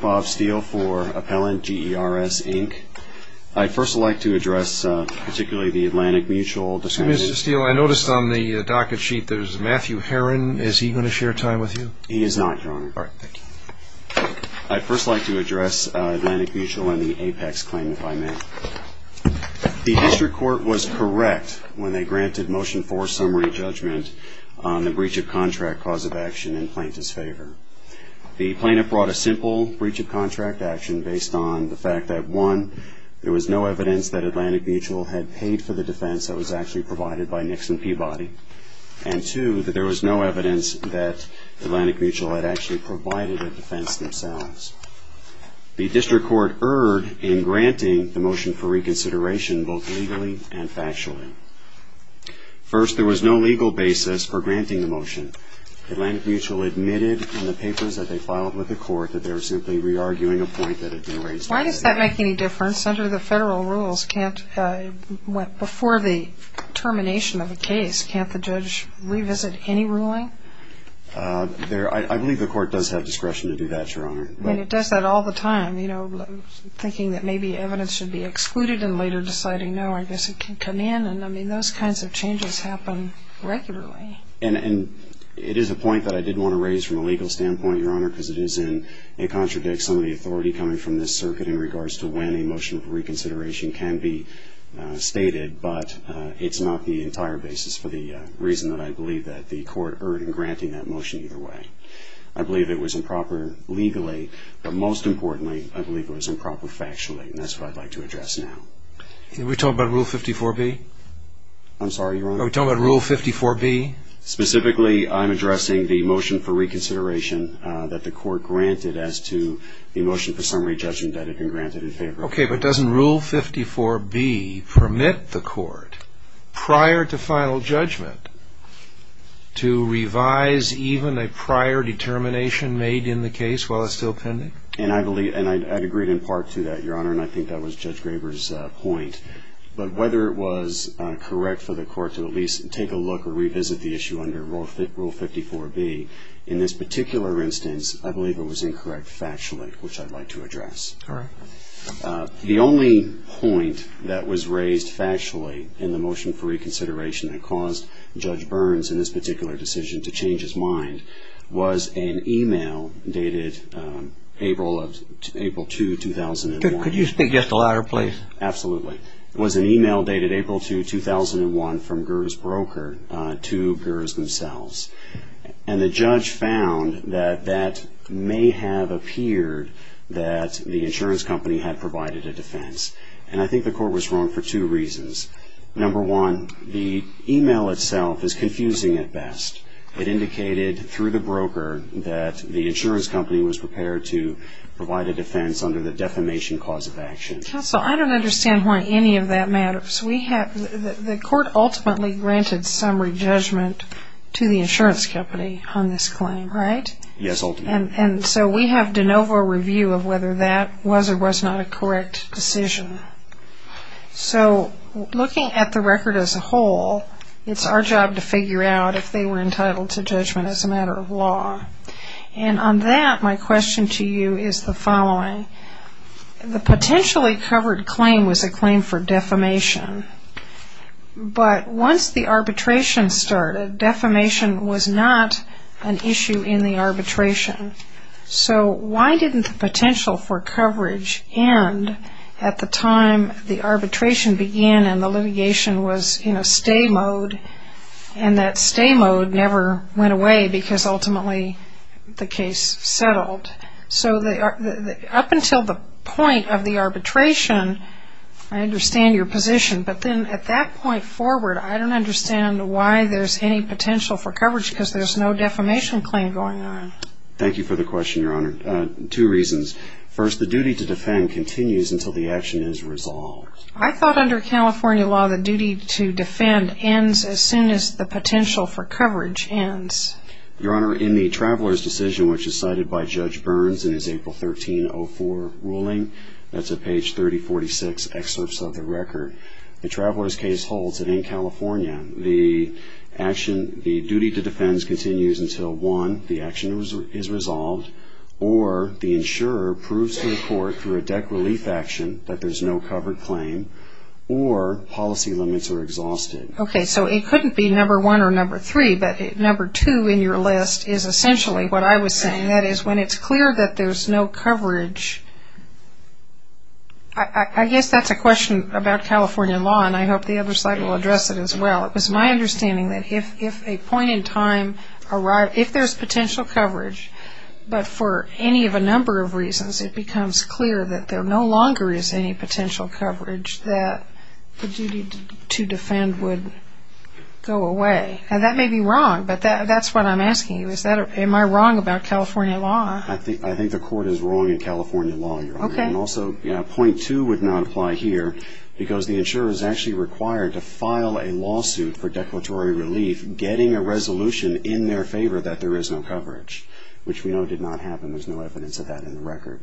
Bob Steele for Appellant GERS Inc. I'd first like to address Atlantic Mutual and the APEX claimant by mail. The district court was correct when they granted motion for summary judgment on the breach of contract cause of action in plaintiff's favor. The plaintiff brought a simple breach of contract action based on the fact that, one, there was no evidence that Atlantic Mutual had paid for the defense that was actually provided by Nixon Peabody, and two, that there was no evidence that Atlantic Mutual had actually provided a defense themselves. The district court erred in granting the motion for reconsideration both legally and factually. First, there was no legal basis for granting the motion. Atlantic Mutual admitted in the papers that they filed with the court that they were simply re-arguing a point that had been raised. Why does that make any difference? Under the federal rules, before the termination of the case, can't the judge revisit any ruling? I believe the court does have discretion to do that, Your Honor. It does that all the time, thinking that maybe evidence should be excluded and later deciding, no, I guess it can come in. Those kinds of changes happen regularly. It is a point that I did want to raise from a legal standpoint, Your Honor, because it contradicts some of the authority coming from this circuit in regards to when a motion of reconsideration can be stated, but it's not the entire basis for the reason that I believe that the court erred in granting that motion either way. I believe it was improper legally, but most importantly, I believe it was improper factually, and that's what I'd like to address now. Are we talking about Rule 54B? I'm sorry, Your Honor? Are we talking about Rule 54B? Specifically, I'm addressing the motion for reconsideration that the court granted as to the motion for summary judgment that had been granted in favor of the court. Okay, but doesn't Rule 54B permit the court, prior to final judgment, to revise even a prior determination made in the case while it's still pending? And I agreed in part to that, Your Honor, and I think that was Judge Graber's point. But whether it was correct for the court to at least take a look or revisit the issue under Rule 54B, in this particular instance, I believe it was incorrect factually, which I'd like to address. Correct. The only point that was raised factually in the motion for reconsideration that caused Judge Burns, in this particular decision, to change his mind, was an email dated April 2, 2001. Could you speak just a little louder, please? Absolutely. It was an email dated April 2, 2001, from Gers' broker to Gers themselves. And the judge found that that may have appeared that the insurance company had provided a defense. And I think the court was wrong for two reasons. Number one, the email itself is confusing at best. It indicated, through the broker, that the insurance company was prepared to provide a defense under the defamation cause of action. Counsel, I don't understand why any of that matters. The court ultimately granted summary judgment to the insurance company on this claim, right? Yes, ultimately. And so we have de novo review of whether that was or was not a correct decision. So looking at the record as a whole, it's our job to figure out if they were entitled to judgment as a matter of law. And on that, my question to you is the following. The potentially covered claim was a claim for defamation. But once the arbitration started, defamation was not an issue in the arbitration. So why didn't the potential for coverage end at the time the arbitration began and the litigation was in a stay mode, and that stay mode never went away because ultimately the case settled? So up until the point of the arbitration, I understand your position. But then at that point forward, I don't understand why there's any potential for coverage because there's no defamation claim going on. Thank you for the question, Your Honor. Two reasons. First, the duty to defend continues until the action is resolved. I thought under California law, the duty to defend ends as soon as the potential for coverage ends. Your Honor, in the Traveler's Decision, which is cited by Judge Burns in his April 1304 ruling, that's at page 3046, excerpts of the record, the Traveler's Case holds that in California, the duty to defend continues until, one, the action is resolved, or the insurer proves to the court through a debt relief action that there's no covered claim, or policy limits are exhausted. Okay, so it couldn't be number one or number three, but number two in your list is essentially what I was saying. That is, when it's clear that there's no coverage, I guess that's a question about California law, and I hope the other side will address it as well. It was my understanding that if a point in time, if there's potential coverage, but for any of a number of reasons it becomes clear that there no longer is any potential coverage that the duty to defend would go away. Now, that may be wrong, but that's what I'm asking you. Am I wrong about California law? I think the court is wrong in California law, Your Honor. Okay. And also, point two would not apply here because the insurer is actually required to file a lawsuit for declaratory relief, getting a resolution in their favor that there is no coverage, which we know did not happen. There's no evidence of that in the record.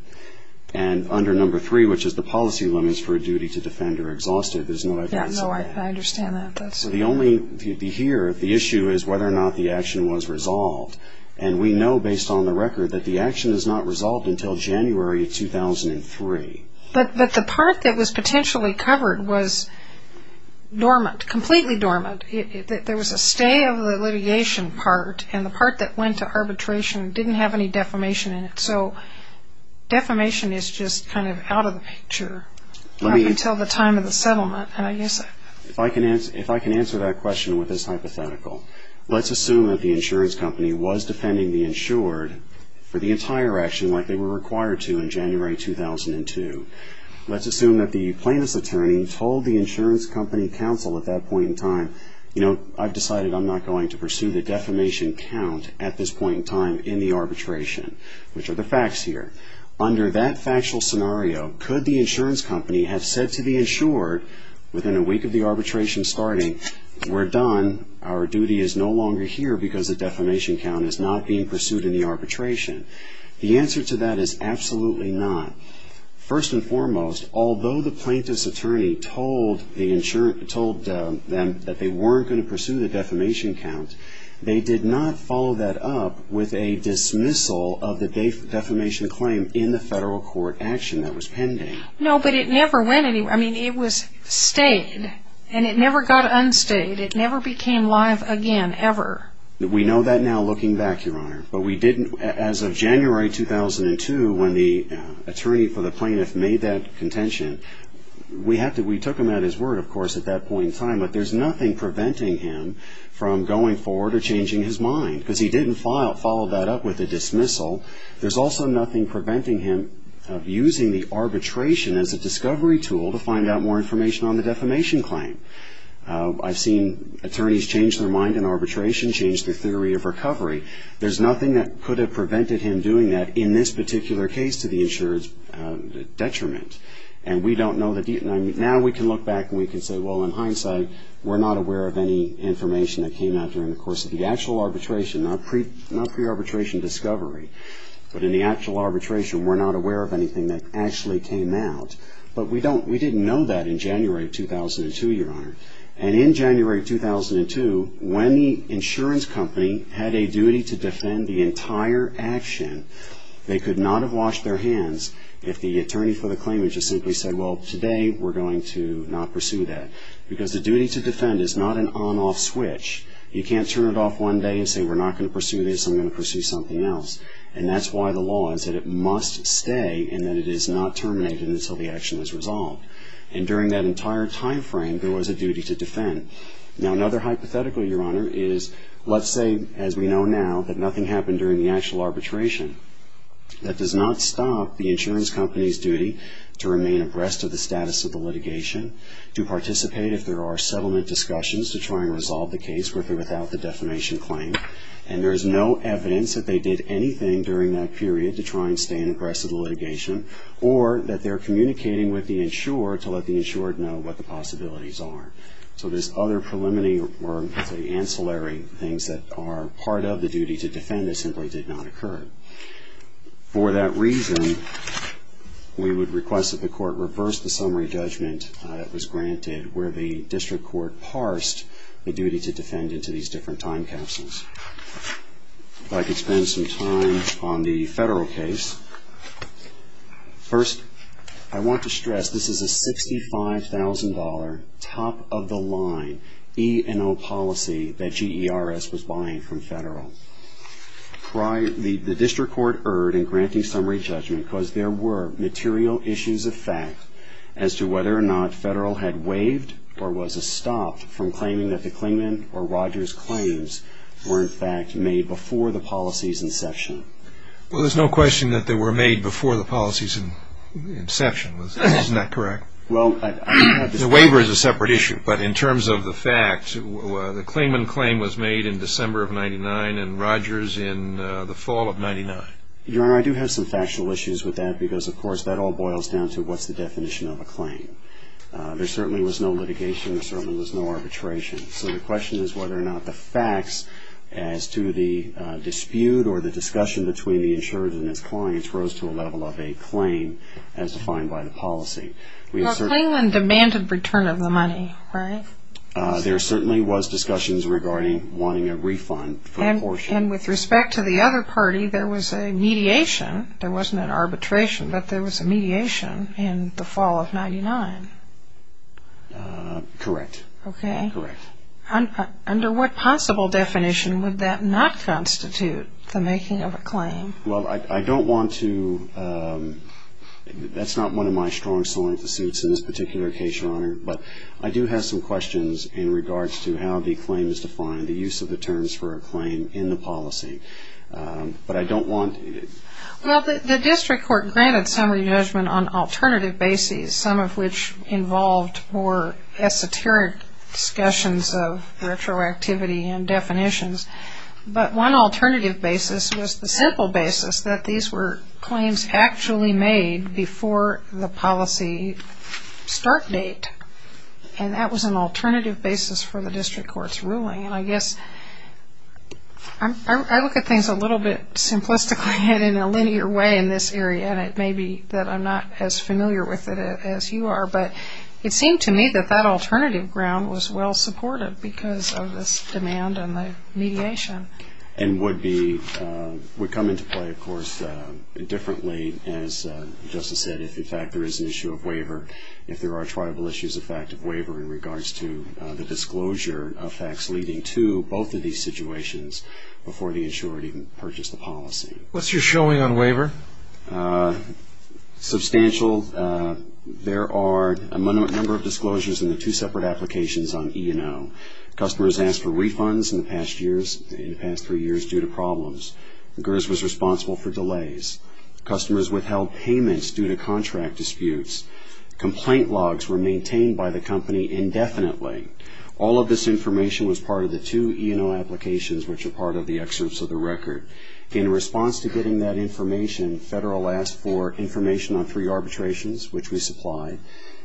And under number three, which is the policy limits for a duty to defend or exhaustive, there's no evidence of that. Yeah, no, I understand that. The only, here, the issue is whether or not the action was resolved, and we know based on the record that the action is not resolved until January 2003. But the part that was potentially covered was dormant, completely dormant. There was a stay of the litigation part, and the part that went to arbitration didn't have any defamation in it. So defamation is just kind of out of the picture up until the time of the settlement. If I can answer that question with this hypothetical, let's assume that the insurance company was defending the insured for the entire action like they were required to in January 2002. Let's assume that the plaintiff's attorney told the insurance company counsel at that point in time, you know, I've decided I'm not going to pursue the defamation count at this point in time in the arbitration, which are the facts here. Under that factual scenario, could the insurance company have said to the insured within a week of the arbitration starting, we're done, our duty is no longer here because the defamation count is not being pursued in the arbitration? The answer to that is absolutely not. First and foremost, although the plaintiff's attorney told them that they weren't going to pursue the defamation count, they did not follow that up with a dismissal of the defamation claim in the federal court action that was pending. No, but it never went anywhere. I mean, it was stayed, and it never got unstayed. It never became live again, ever. We know that now looking back, Your Honor. As of January 2002, when the attorney for the plaintiff made that contention, we took him at his word, of course, at that point in time, but there's nothing preventing him from going forward or changing his mind because he didn't follow that up with a dismissal. There's also nothing preventing him of using the arbitration as a discovery tool to find out more information on the defamation claim. I've seen attorneys change their mind in arbitration, change their theory of recovery. There's nothing that could have prevented him doing that in this particular case to the insurer's detriment, and we don't know the detail. Now we can look back and we can say, well, in hindsight, we're not aware of any information that came out during the course of the actual arbitration, not pre-arbitration discovery, but in the actual arbitration, we're not aware of anything that actually came out, but we didn't know that in January 2002, Your Honor, and in January 2002, when the insurance company had a duty to defend the entire action, they could not have washed their hands if the attorney for the claimant just simply said, well, today we're going to not pursue that because the duty to defend is not an on-off switch. You can't turn it off one day and say we're not going to pursue this, I'm going to pursue something else, and that's why the law is that it must stay and that it is not terminated until the action is resolved, and during that entire time frame, there was a duty to defend. Now another hypothetical, Your Honor, is let's say, as we know now, that nothing happened during the actual arbitration. That does not stop the insurance company's duty to remain abreast of the status of the litigation, to participate if there are settlement discussions to try and resolve the case with or without the defamation claim, and there is no evidence that they did anything during that period to try and stay abreast of the litigation, or that they're communicating with the insurer to let the insurer know what the possibilities are. So there's other preliminary or ancillary things that are part of the duty to defend that simply did not occur. For that reason, we would request that the court reverse the summary judgment that was granted where the district court parsed the duty to defend into these different time capsules. If I could spend some time on the federal case. First, I want to stress this is a $65,000 top-of-the-line E&O policy that GERS was buying from federal. The district court erred in granting summary judgment because there were material issues of fact as to whether or not federal had waived or was stopped from claiming that the Klingman or Rogers claims were in fact made before the policy's inception. Well, there's no question that they were made before the policy's inception. Isn't that correct? The waiver is a separate issue, but in terms of the fact, the Klingman claim was made in December of 99 and Rogers in the fall of 99. Your Honor, I do have some factual issues with that because, of course, that all boils down to what's the definition of a claim. There certainly was no litigation. There certainly was no arbitration. So the question is whether or not the facts as to the dispute or the discussion between the insurer and his clients rose to a level of a claim as defined by the policy. Well, Klingman demanded return of the money, right? There certainly was discussions regarding wanting a refund for the portion. And with respect to the other party, there was a mediation. There wasn't an arbitration, but there was a mediation in the fall of 99. Correct. Okay. Correct. Under what possible definition would that not constitute the making of a claim? Well, I don't want to – that's not one of my strong solemn pursuits in this particular case, Your Honor, but I do have some questions in regards to how the claim is defined, the use of the terms for a claim in the policy. But I don't want to – Well, the district court granted summary judgment on alternative bases, some of which involved more esoteric discussions of retroactivity and definitions. But one alternative basis was the simple basis that these were claims actually made before the policy start date, and I guess I look at things a little bit simplistically and in a linear way in this area, and it may be that I'm not as familiar with it as you are, but it seemed to me that that alternative ground was well-supported because of this demand and the mediation. And would be – would come into play, of course, differently, as Justice said, if, in fact, there is an issue of waiver, if there are triable issues of fact of waiver in regards to the disclosure of facts leading to both of these situations before the insured even purchased the policy. What's your showing on waiver? Substantial. There are a number of disclosures in the two separate applications on E&O. Customers asked for refunds in the past years – in the past three years due to problems. The GERS was responsible for delays. Customers withheld payments due to contract disputes. Complaint logs were maintained by the company indefinitely. All of this information was part of the two E&O applications, which are part of the excerpts of the record. In response to getting that information, Federal asked for information on three arbitrations, which we supplied,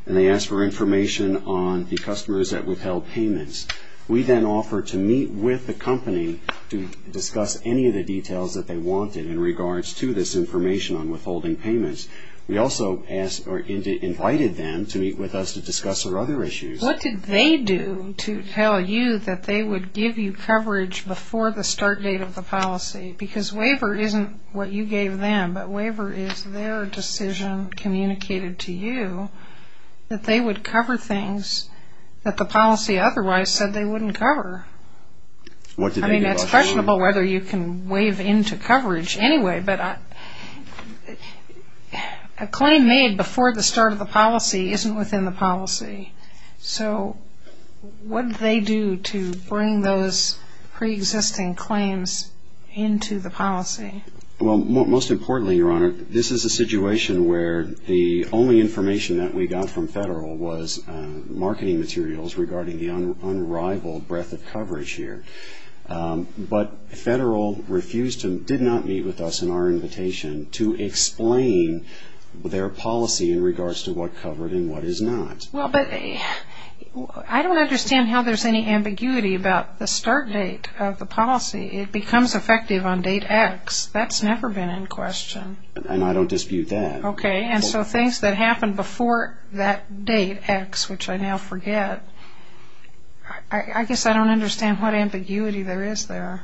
and they asked for information on the customers that withheld payments. We then offered to meet with the company to discuss any of the details that they wanted in regards to this information on withholding payments. We also invited them to meet with us to discuss their other issues. What did they do to tell you that they would give you coverage before the start date of the policy? Because waiver isn't what you gave them, but waiver is their decision communicated to you that they would cover things that the policy otherwise said they wouldn't cover. I mean, it's questionable whether you can waive into coverage anyway, but a claim made before the start of the policy isn't within the policy. So what did they do to bring those pre-existing claims into the policy? Well, most importantly, Your Honor, this is a situation where the only information that we got from Federal was marketing materials regarding the unrivaled breadth of coverage here. But Federal refused to, did not meet with us in our invitation to explain their policy in regards to what covered and what is not. Well, but I don't understand how there's any ambiguity about the start date of the policy. It becomes effective on date X. That's never been in question. And I don't dispute that. Okay, and so things that happened before that date X, which I now forget, I guess I don't understand what ambiguity there is there.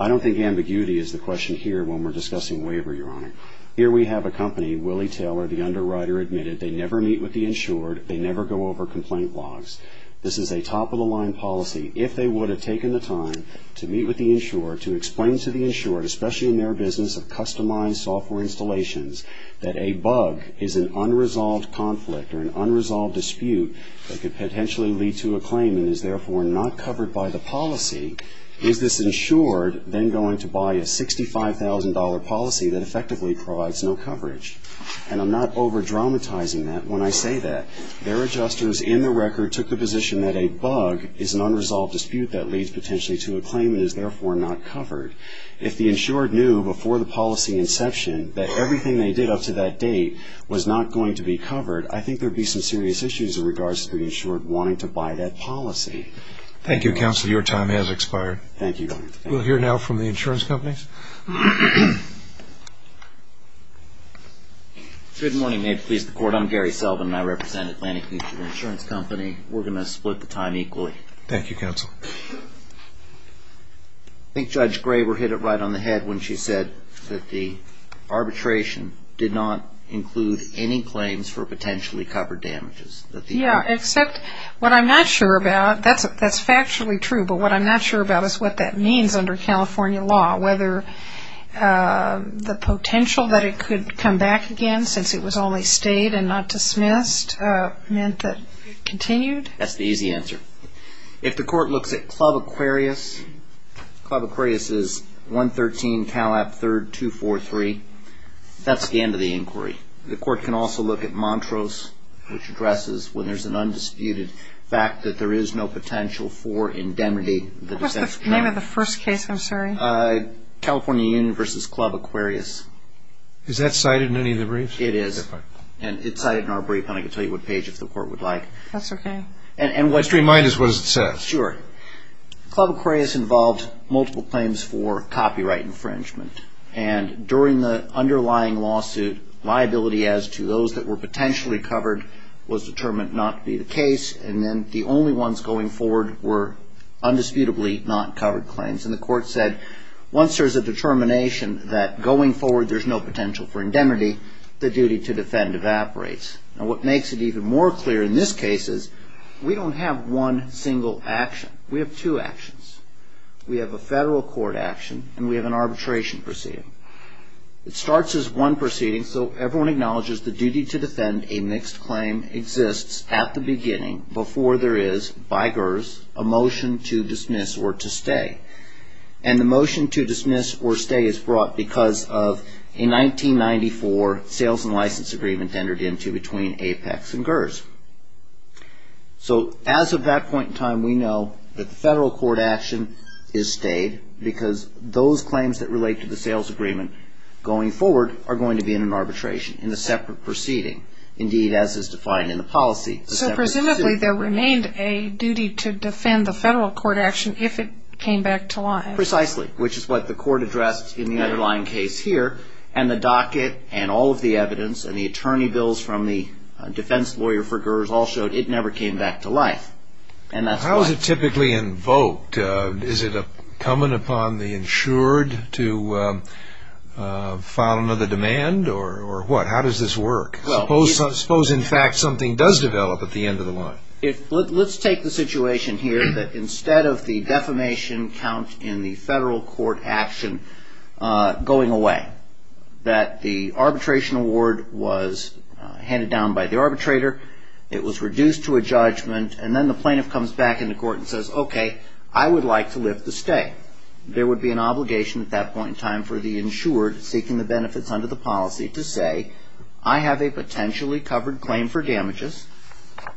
I don't think ambiguity is the question here when we're discussing waiver, Your Honor. Here we have a company, Willie Taylor, the underwriter, admitted they never meet with the insured, they never go over complaint logs. This is a top-of-the-line policy. If they would have taken the time to meet with the insured, to explain to the insured, especially in their business of customized software installations, that a bug is an unresolved conflict or an unresolved dispute that could potentially lead to a claim and is therefore not covered by the policy, is this insured then going to buy a $65,000 policy that effectively provides no coverage? And I'm not over-dramatizing that when I say that. Their adjusters in the record took the position that a bug is an unresolved dispute that leads potentially to a claim and is therefore not covered. If the insured knew before the policy inception that everything they did up to that date was not going to be covered, I think there would be some serious issues in regards to the insured wanting to buy that policy. Thank you, Counselor. Your time has expired. Thank you, Your Honor. Good morning. May it please the Court. I'm Gary Selvin, and I represent Atlantic Insurance Company. We're going to split the time equally. Thank you, Counsel. I think Judge Graber hit it right on the head when she said that the arbitration did not include any claims for potentially covered damages. Yeah, except what I'm not sure about, that's factually true, but what I'm not sure about is what that means under California law, whether the potential that it could come back again since it was only stayed and not dismissed meant that it continued? That's the easy answer. If the Court looks at Club Aquarius, Club Aquarius is 113 Calap 3rd 243, that's the end of the inquiry. The Court can also look at Montrose, which addresses when there's an undisputed fact that there is no potential for indemnity. What's the name of the first case, I'm sorry? California Union v. Club Aquarius. Is that cited in any of the briefs? It is, and it's cited in our brief, and I can tell you what page if the Court would like. That's okay. Just remind us what it says. Sure. Club Aquarius involved multiple claims for copyright infringement, and during the underlying lawsuit, liability as to those that were potentially covered was determined not to be the case, and then the only ones going forward were undisputably not covered claims. And the Court said once there's a determination that going forward there's no potential for indemnity, the duty to defend evaporates. Now what makes it even more clear in this case is we don't have one single action. We have two actions. We have a federal court action, and we have an arbitration proceeding. It starts as one proceeding, so everyone acknowledges the duty to defend a mixed claim exists at the beginning before there is, by GERS, a motion to dismiss or to stay. And the motion to dismiss or stay is brought because of a 1994 sales and license agreement entered into between Apex and GERS. So as of that point in time, we know that the federal court action is stayed because those claims that relate to the sales agreement going forward are going to be in an arbitration, in a separate proceeding, indeed as is defined in the policy. So presumably there remained a duty to defend the federal court action if it came back to life. Precisely, which is what the Court addressed in the underlying case here. And the docket and all of the evidence and the attorney bills from the defense lawyer for GERS all showed it never came back to life, and that's why. How is it typically invoked? Is it coming upon the insured to file another demand or what? How does this work? Suppose, in fact, something does develop at the end of the line. Let's take the situation here that instead of the defamation count in the federal court action going away, that the arbitration award was handed down by the arbitrator, it was reduced to a judgment, and then the plaintiff comes back into court and says, okay, I would like to lift the stay. There would be an obligation at that point in time for the insured seeking the benefits under the policy to say I have a potentially covered claim for damages,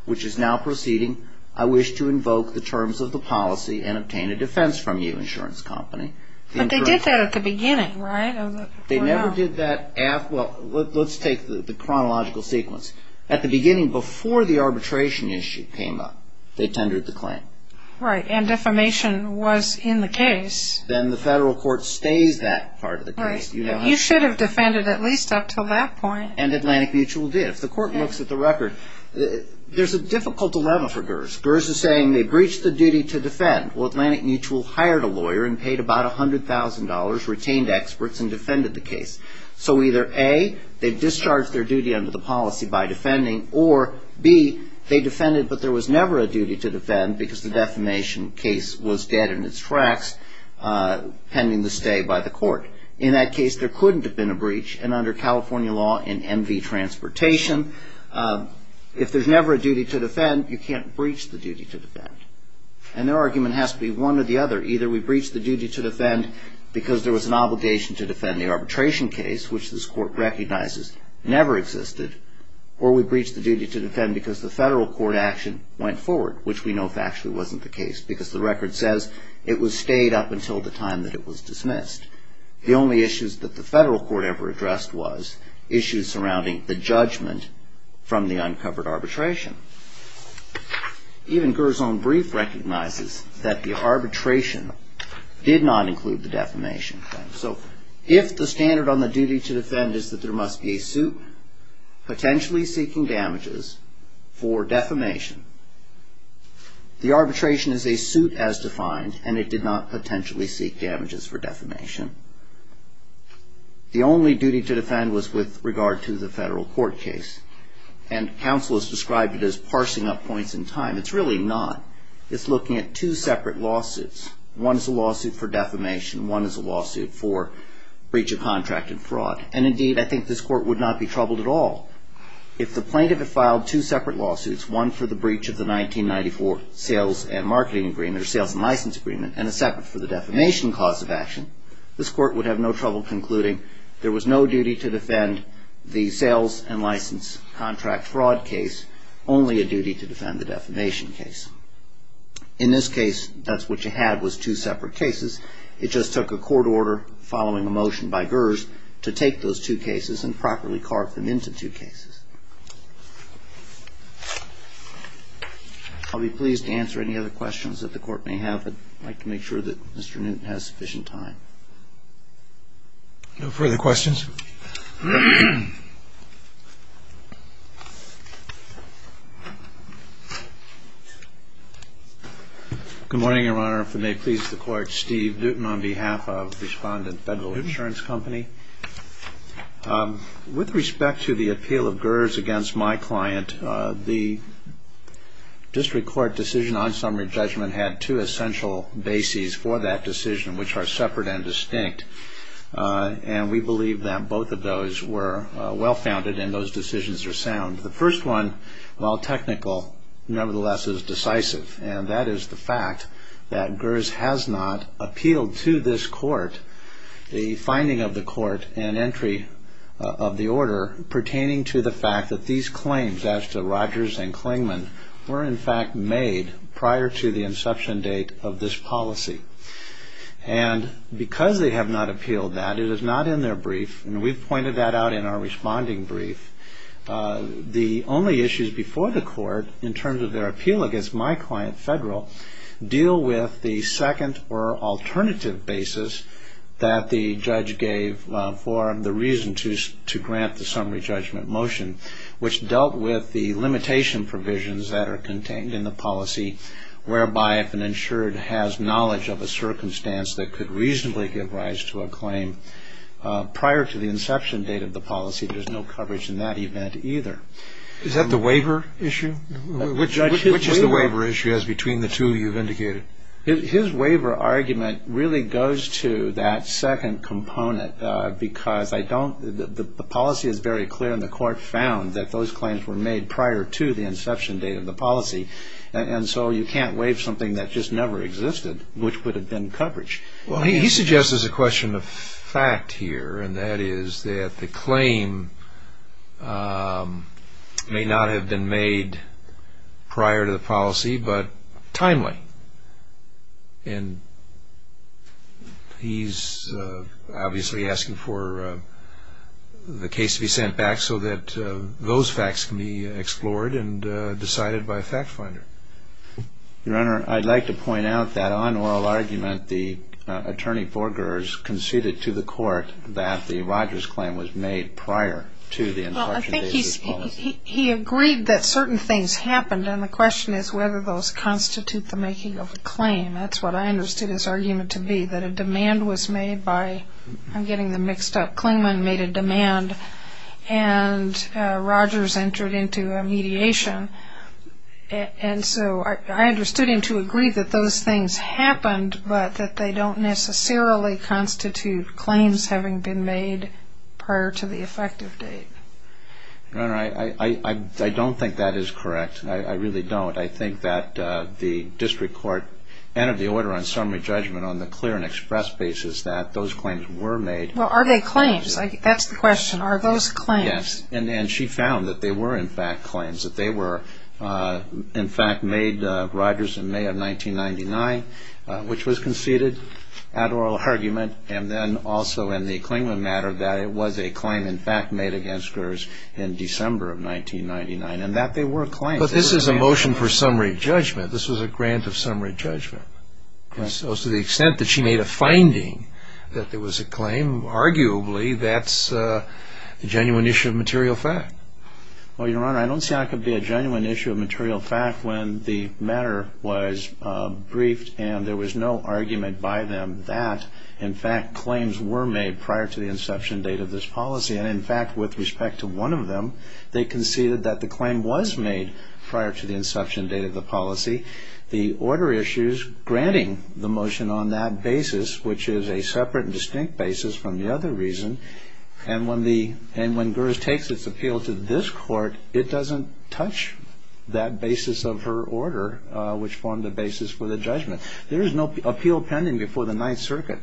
which is now proceeding. I wish to invoke the terms of the policy and obtain a defense from you, insurance company. But they did that at the beginning, right? They never did that. Well, let's take the chronological sequence. At the beginning, before the arbitration issue came up, they tendered the claim. Right, and defamation was in the case. Then the federal court stays that part of the case. You should have defended at least up until that point. And Atlantic Mutual did. If the court looks at the record, there's a difficult dilemma for GERS. GERS is saying they breached the duty to defend. Well, Atlantic Mutual hired a lawyer and paid about $100,000, retained experts, and defended the case. So either A, they discharged their duty under the policy by defending, or B, they defended, but there was never a duty to defend because the defamation case was dead in its tracks pending the stay by the court. In that case, there couldn't have been a breach, and under California law, in MV Transportation, if there's never a duty to defend, you can't breach the duty to defend. And their argument has to be one or the other. Either we breached the duty to defend because there was an obligation to defend the arbitration case, which this court recognizes never existed, or we breached the duty to defend because the federal court action went forward, which we know factually wasn't the case because the record says it was stayed up until the time that it was dismissed. The only issues that the federal court ever addressed was issues surrounding the judgment from the uncovered arbitration. Even GERS' own brief recognizes that the arbitration did not include the defamation claim. So if the standard on the duty to defend is that there must be a suit potentially seeking damages for defamation, the arbitration is a suit as defined, and it did not potentially seek damages for defamation. The only duty to defend was with regard to the federal court case, and counsel has described it as parsing up points in time. It's really not. It's looking at two separate lawsuits. One is a lawsuit for defamation. One is a lawsuit for breach of contract and fraud, and indeed I think this court would not be troubled at all. If the plaintiff had filed two separate lawsuits, one for the breach of the 1994 sales and licensing agreement, and a separate for the defamation cause of action, this court would have no trouble concluding there was no duty to defend the sales and license contract fraud case, only a duty to defend the defamation case. In this case, that's what you had was two separate cases. It just took a court order following a motion by Gers to take those two cases and properly carve them into two cases. I'll be pleased to answer any other questions that the court may have, but I'd like to make sure that Mr. Newton has sufficient time. No further questions? Good morning, Your Honor. If it may please the Court, Steve Newton on behalf of Respondent Federal Insurance Company. With respect to the appeal of Gers against my client, the district court decision on summary judgment had two essential bases for that decision, which are separate and distinct, and we believe that both of those were well-founded and those decisions are sound. The first one, while technical, nevertheless is decisive, and that is the fact that Gers has not appealed to this court the finding of the court and entry of the order pertaining to the fact that these claims as to Rogers and Klingman were in fact made prior to the inception date of this policy. And because they have not appealed that, it is not in their brief, and we've pointed that out in our responding brief, the only issues before the court in terms of their appeal against my client, Federal, deal with the second or alternative basis that the judge gave for the reason to grant the summary judgment motion, which dealt with the limitation provisions that are contained in the policy whereby if an insured has knowledge of a circumstance that could reasonably give rise to a claim prior to the inception date of the policy, there's no coverage in that event either. Is that the waiver issue? Which is the waiver issue as between the two you've indicated? His waiver argument really goes to that second component because the policy is very clear and the court found that those claims were made prior to the inception date of the policy, and so you can't waive something that just never existed, which would have been coverage. Well, he suggests there's a question of fact here, and that is that the claim may not have been made prior to the policy but timely. And he's obviously asking for the case to be sent back so that those facts can be explored and decided by a fact finder. Your Honor, I'd like to point out that on oral argument, the attorney foregoers conceded to the court that the Rogers claim was made prior to the inception date of the policy. He agreed that certain things happened, and the question is whether those constitute the making of a claim. That's what I understood his argument to be, that a demand was made by, I'm getting them mixed up, Klingman made a demand and Rogers entered into a mediation, and so I understood him to agree that those things happened but that they don't necessarily constitute claims having been made prior to the effective date. Your Honor, I don't think that is correct. I really don't. I think that the district court entered the order on summary judgment on the clear and express basis that those claims were made. Well, are they claims? That's the question. Are those claims? Yes, and she found that they were, in fact, claims, that they were, in fact, made Rogers in May of 1999, which was conceded at oral argument, and then also in the Klingman matter that it was a claim, in fact, made against Rogers in December of 1999, and that they were claims. But this is a motion for summary judgment. This was a grant of summary judgment. So to the extent that she made a finding that there was a claim, arguably that's a genuine issue of material fact. Well, Your Honor, I don't see how it could be a genuine issue of material fact when the matter was briefed and there was no argument by them that, in fact, claims were made prior to the inception date of this policy. And, in fact, with respect to one of them, they conceded that the claim was made prior to the inception date of the policy. The order issues granting the motion on that basis, which is a separate and distinct basis from the other reason, and when Gers takes its appeal to this court, it doesn't touch that basis of her order, which formed the basis for the judgment. There is no appeal pending before the Ninth Circuit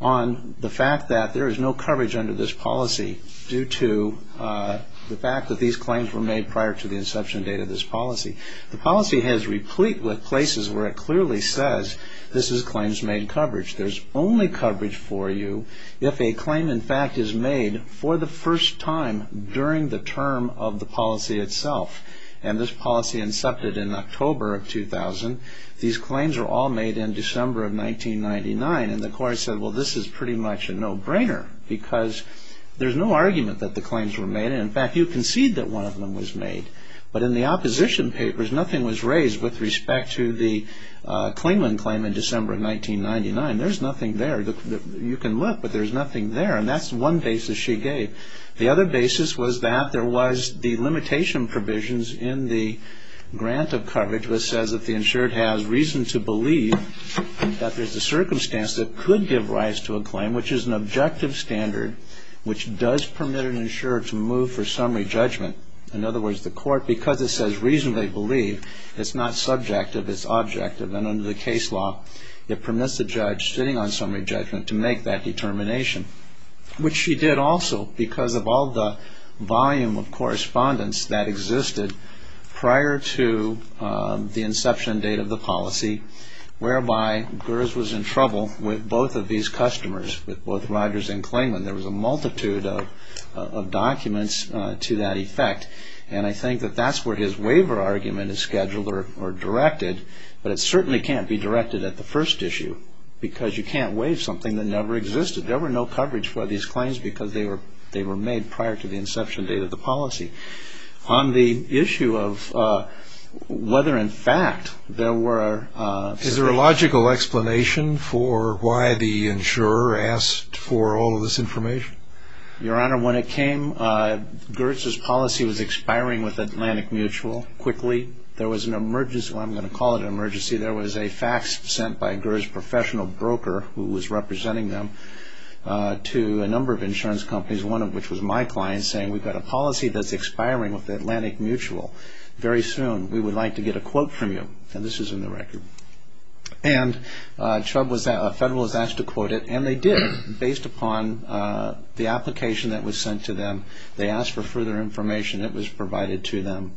on the fact that there is no coverage under this policy due to the fact that these claims were made prior to the inception date of this policy. The policy has replete with places where it clearly says this is claims made coverage. There's only coverage for you if a claim, in fact, is made for the first time during the term of the policy itself. And this policy incepted in October of 2000. These claims were all made in December of 1999, and the court said, well, this is pretty much a no-brainer because there's no argument that the claims were made. In fact, you concede that one of them was made, but in the opposition papers, nothing was raised with respect to the Clingman claim in December of 1999. There's nothing there. You can look, but there's nothing there, and that's one basis she gave. The other basis was that there was the limitation provisions in the grant of coverage which says that the insured has reason to believe that there's a circumstance that could give rise to a claim, which is an objective standard, which does permit an insured to move for summary judgment. In other words, the court, because it says reasonably believe, it's not subjective. It's objective, and under the case law, it permits the judge sitting on summary judgment to make that determination, which she did also because of all the volume of correspondence that existed prior to the inception date of the policy, whereby Gers was in trouble with both of these customers, with both Rogers and Clingman. There was a multitude of documents to that effect, and I think that that's where his waiver argument is scheduled or directed, but it certainly can't be directed at the first issue because you can't waive something that never existed. There were no coverage for these claims because they were made prior to the inception date of the policy. On the issue of whether in fact there were... Is there a logical explanation for why the insurer asked for all of this information? Your Honor, when it came, Gers' policy was expiring with Atlantic Mutual quickly. There was an emergency, well, I'm going to call it an emergency. There was a fax sent by Gers' professional broker who was representing them to a number of insurance companies, one of which was my client, saying we've got a policy that's expiring with Atlantic Mutual very soon. We would like to get a quote from you, and this is in the record. And a federal was asked to quote it, and they did, based upon the application that was sent to them. They asked for further information. It was provided to them,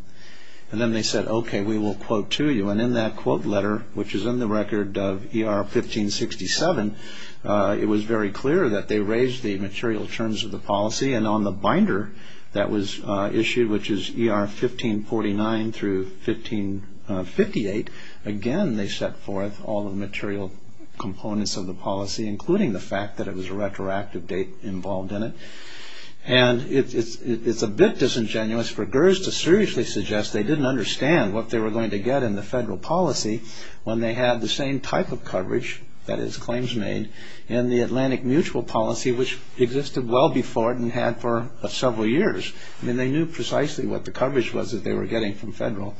and then they said, okay, we will quote to you, and in that quote letter, which is in the record of ER 1567, it was very clear that they raised the material terms of the policy, and on the binder that was issued, which is ER 1549 through 1558, again they set forth all the material components of the policy, including the fact that it was a retroactive date involved in it. And it's a bit disingenuous for Gers' to seriously suggest they didn't understand what they were going to get in the federal policy when they had the same type of coverage, that is claims made, in the Atlantic Mutual policy, which existed well before it and had for several years. I mean, they knew precisely what the coverage was that they were getting from federal.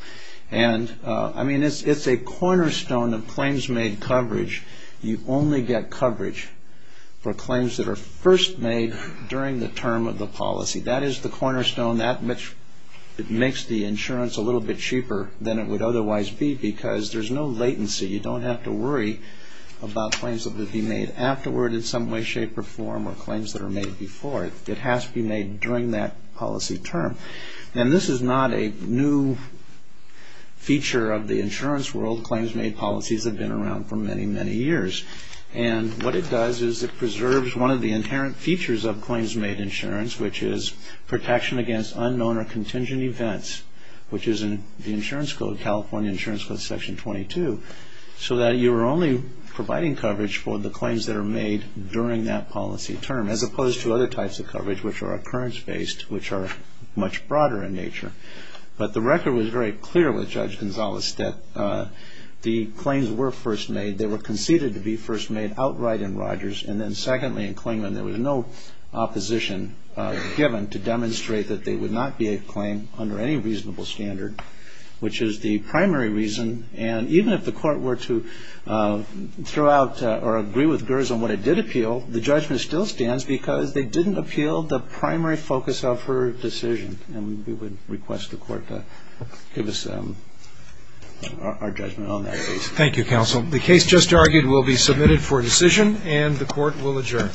And, I mean, it's a cornerstone of claims made coverage. You only get coverage for claims that are first made during the term of the policy. That is the cornerstone, that which makes the insurance a little bit cheaper than it would otherwise be, because there's no latency. You don't have to worry about claims that would be made afterward in some way, shape, or form, or claims that are made before. It has to be made during that policy term. And this is not a new feature of the insurance world. Claims made policies have been around for many, many years. And what it does is it preserves one of the inherent features of claims made insurance, which is protection against unknown or contingent events, which is in the insurance code, California Insurance Code, Section 22, so that you are only providing coverage for the claims that are made during that policy term, as opposed to other types of coverage, which are occurrence-based, which are much broader in nature. But the record was very clear with Judge Gonzales that the claims were first made. They were conceded to be first made outright in Rogers. And then, secondly, in Klingman, there was no opposition given to demonstrate that they would not be a claim under any reasonable standard, which is the primary reason. And even if the court were to throw out or agree with Gers on what it did appeal, the judgment still stands because they didn't appeal the primary focus of her decision. And we would request the court to give us our judgment on that case. Thank you, counsel. The case just argued will be submitted for decision, and the court will adjourn.